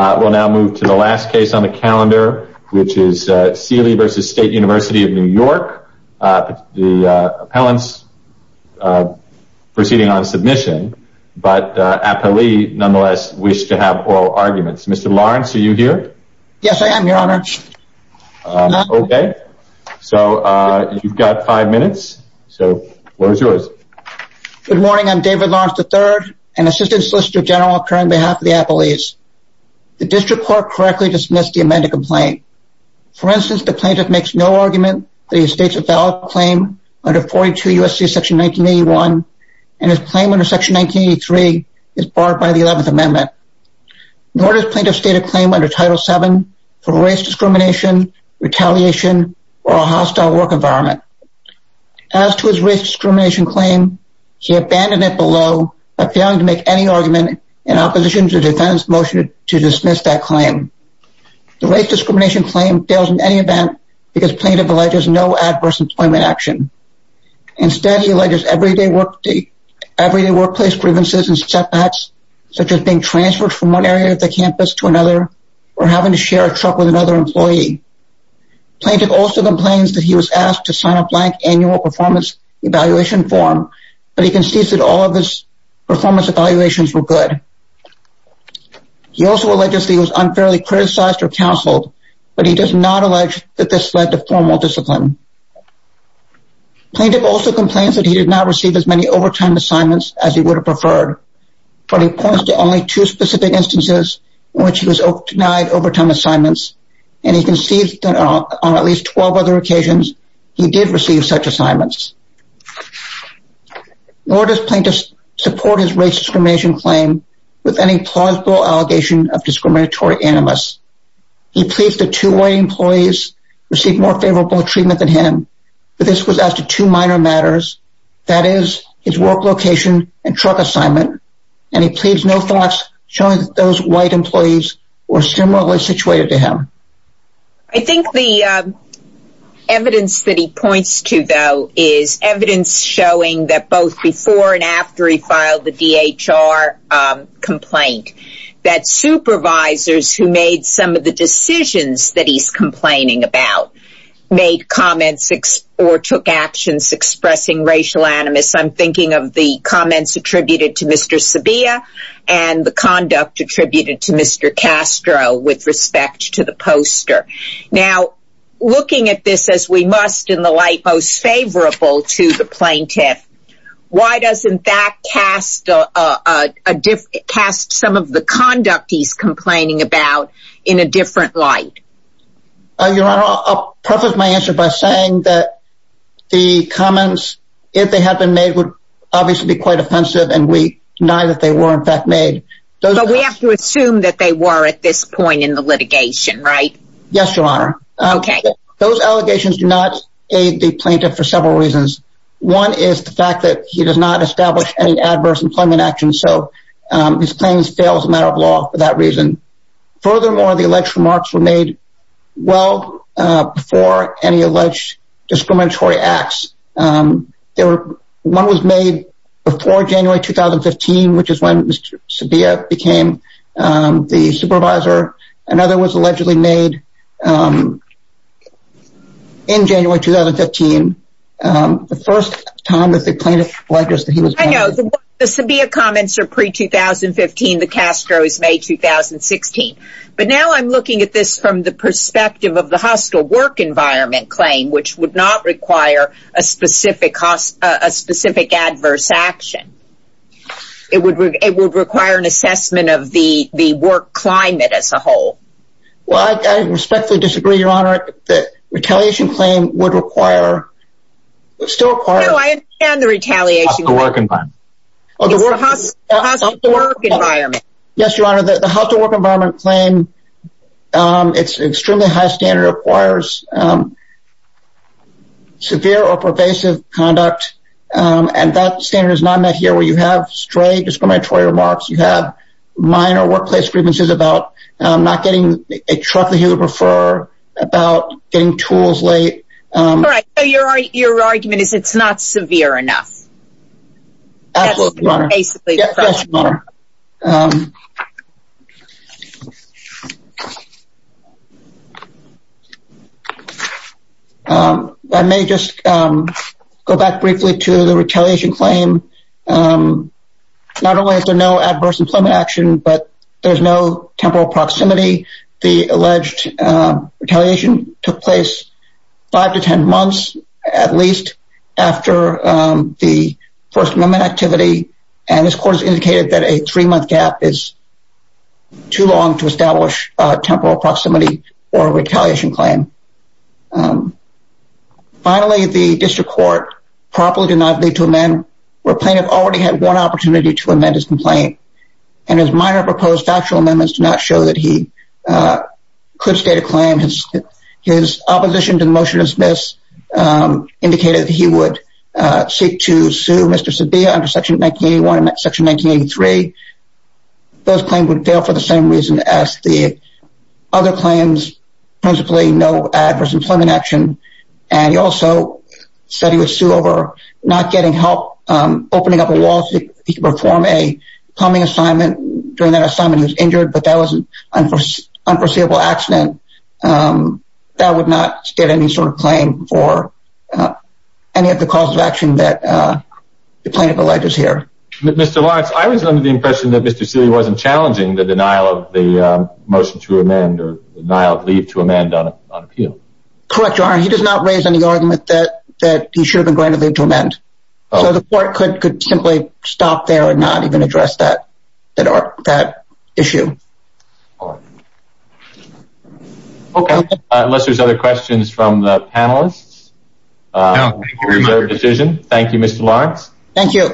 We'll now move to the last case on the calendar, which is Sealy v. State University of New York. The appellant's proceeding on submission, but appellee nonetheless wished to have oral arguments. Mr. Lawrence, are you here? Yes, I am, Your Honor. Okay, so you've got five minutes, so the floor is yours. Good morning, I'm David Lawrence III, an Assistant Solicitor General, appearing on behalf of the appellees. The district court correctly dismissed the amended complaint. For instance, the plaintiff makes no argument that he states a valid claim under 42 U.S.C. Section 1981, and his claim under Section 1983 is barred by the 11th Amendment, nor does plaintiff state a claim under Title VII for race discrimination, retaliation, or a hostile work environment. As to his race discrimination claim, he abandoned it below by failing to make any argument in opposition to the defendant's motion to dismiss that claim. The race discrimination claim fails in any event because plaintiff alleges no adverse employment action. Instead, he alleges everyday workplace grievances and setbacks, such as being transferred from one area of the campus to another, or having to share a truck with another employee. Plaintiff also complains that he was asked to sign a blank annual performance evaluation form, but he concedes that all of his performance evaluations were good. He also alleges that he was unfairly criticized or counseled, but he does not allege that this led to formal discipline. Plaintiff also complains that he did not receive as many overtime assignments as he would have preferred, but he points to only two specific instances in which he was denied overtime assignments, and he concedes that on at least 12 other occasions, he did receive such assignments. Nor does plaintiff support his race discrimination claim with any plausible allegation of discriminatory animus. He pleads that two white employees received more favorable treatment than him, but this was after two minor matters, that is, his work location and truck assignment, and he pleads no thoughts showing that those white employees were similarly situated to I think the evidence that he points to, though, is evidence showing that both before and after he filed the DHR complaint, that supervisors who made some of the decisions that he's complaining about made comments or took actions expressing racial animus. I'm thinking of the comments attributed to Mr. Sabia and the conduct attributed to Mr. Castro with respect to the poster. Now, looking at this as we must in the light most favorable to the plaintiff, why doesn't that cast some of the conduct he's complaining about in a different light? Your Honor, I'll preface my answer by saying that the comments, if they had been made, obviously would be quite offensive, and we deny that they were in fact made. But we have to assume that they were at this point in the litigation, right? Yes, Your Honor. Those allegations do not aid the plaintiff for several reasons. One is the fact that he does not establish any adverse employment actions, so his claims fail as a matter of law for that reason. Furthermore, the alleged remarks were made well before any alleged discriminatory acts. One was made before January 2015, which is when Mr. Sabia became the supervisor. Another was allegedly made in January 2015. The first time that the plaintiff alleges that he was... I know, the Sabia comments are pre-2015, the Castro is May 2016. But now I'm looking at this from the perspective of the hostile work environment claim, which would not require a specific cost, a specific adverse action. It would require an assessment of the work climate as a whole. Well, I respectfully disagree, Your Honor, that retaliation claim would require, would still require... No, I understand the retaliation... Of the work environment. Of the work environment. Yes, Your Honor, the hostile work environment claim, it's extremely high standard requires severe or pervasive conduct. And that standard is not met here where you have straight discriminatory remarks, you have minor workplace grievances about not getting a truck that you would prefer, about getting tools late. Right. So your argument is it's not severe enough. Absolutely, Your Honor. That's basically the problem. I may just go back briefly to the retaliation claim. Not only is there no adverse employment action, but there's no temporal proximity. The alleged retaliation took place five to 10 months, at least, after the First Amendment activity. And this court has indicated that a three-month gap is too long to establish a temporal proximity or retaliation claim. Finally, the district court properly did not lead to a man where plaintiff already had one opportunity to amend his complaint. And his minor proposed factual amendments do not show that he could state a claim. His opposition to the motion to dismiss indicated that he would seek to sue Mr. Sabia under Section 1981 and Section 1983. Those claims would fail for the same reason as the other claims, principally no adverse employment action. And he also said he would sue over not getting help opening up a wall so he could perform a plumbing assignment during that assignment. He was injured, but that was an unforeseeable accident. That would not get any sort of claim for any of the calls of action that the plaintiff alleges here. Mr. Lawrence, I was under the impression that Mr. Sealy wasn't challenging the denial of the motion to amend or denial of leave to amend on appeal. Correct, Your Honor. He does not raise any argument that he should have been going to address that issue. Okay, unless there's other questions from the panelists. Thank you, Mr. Lawrence. Thank you.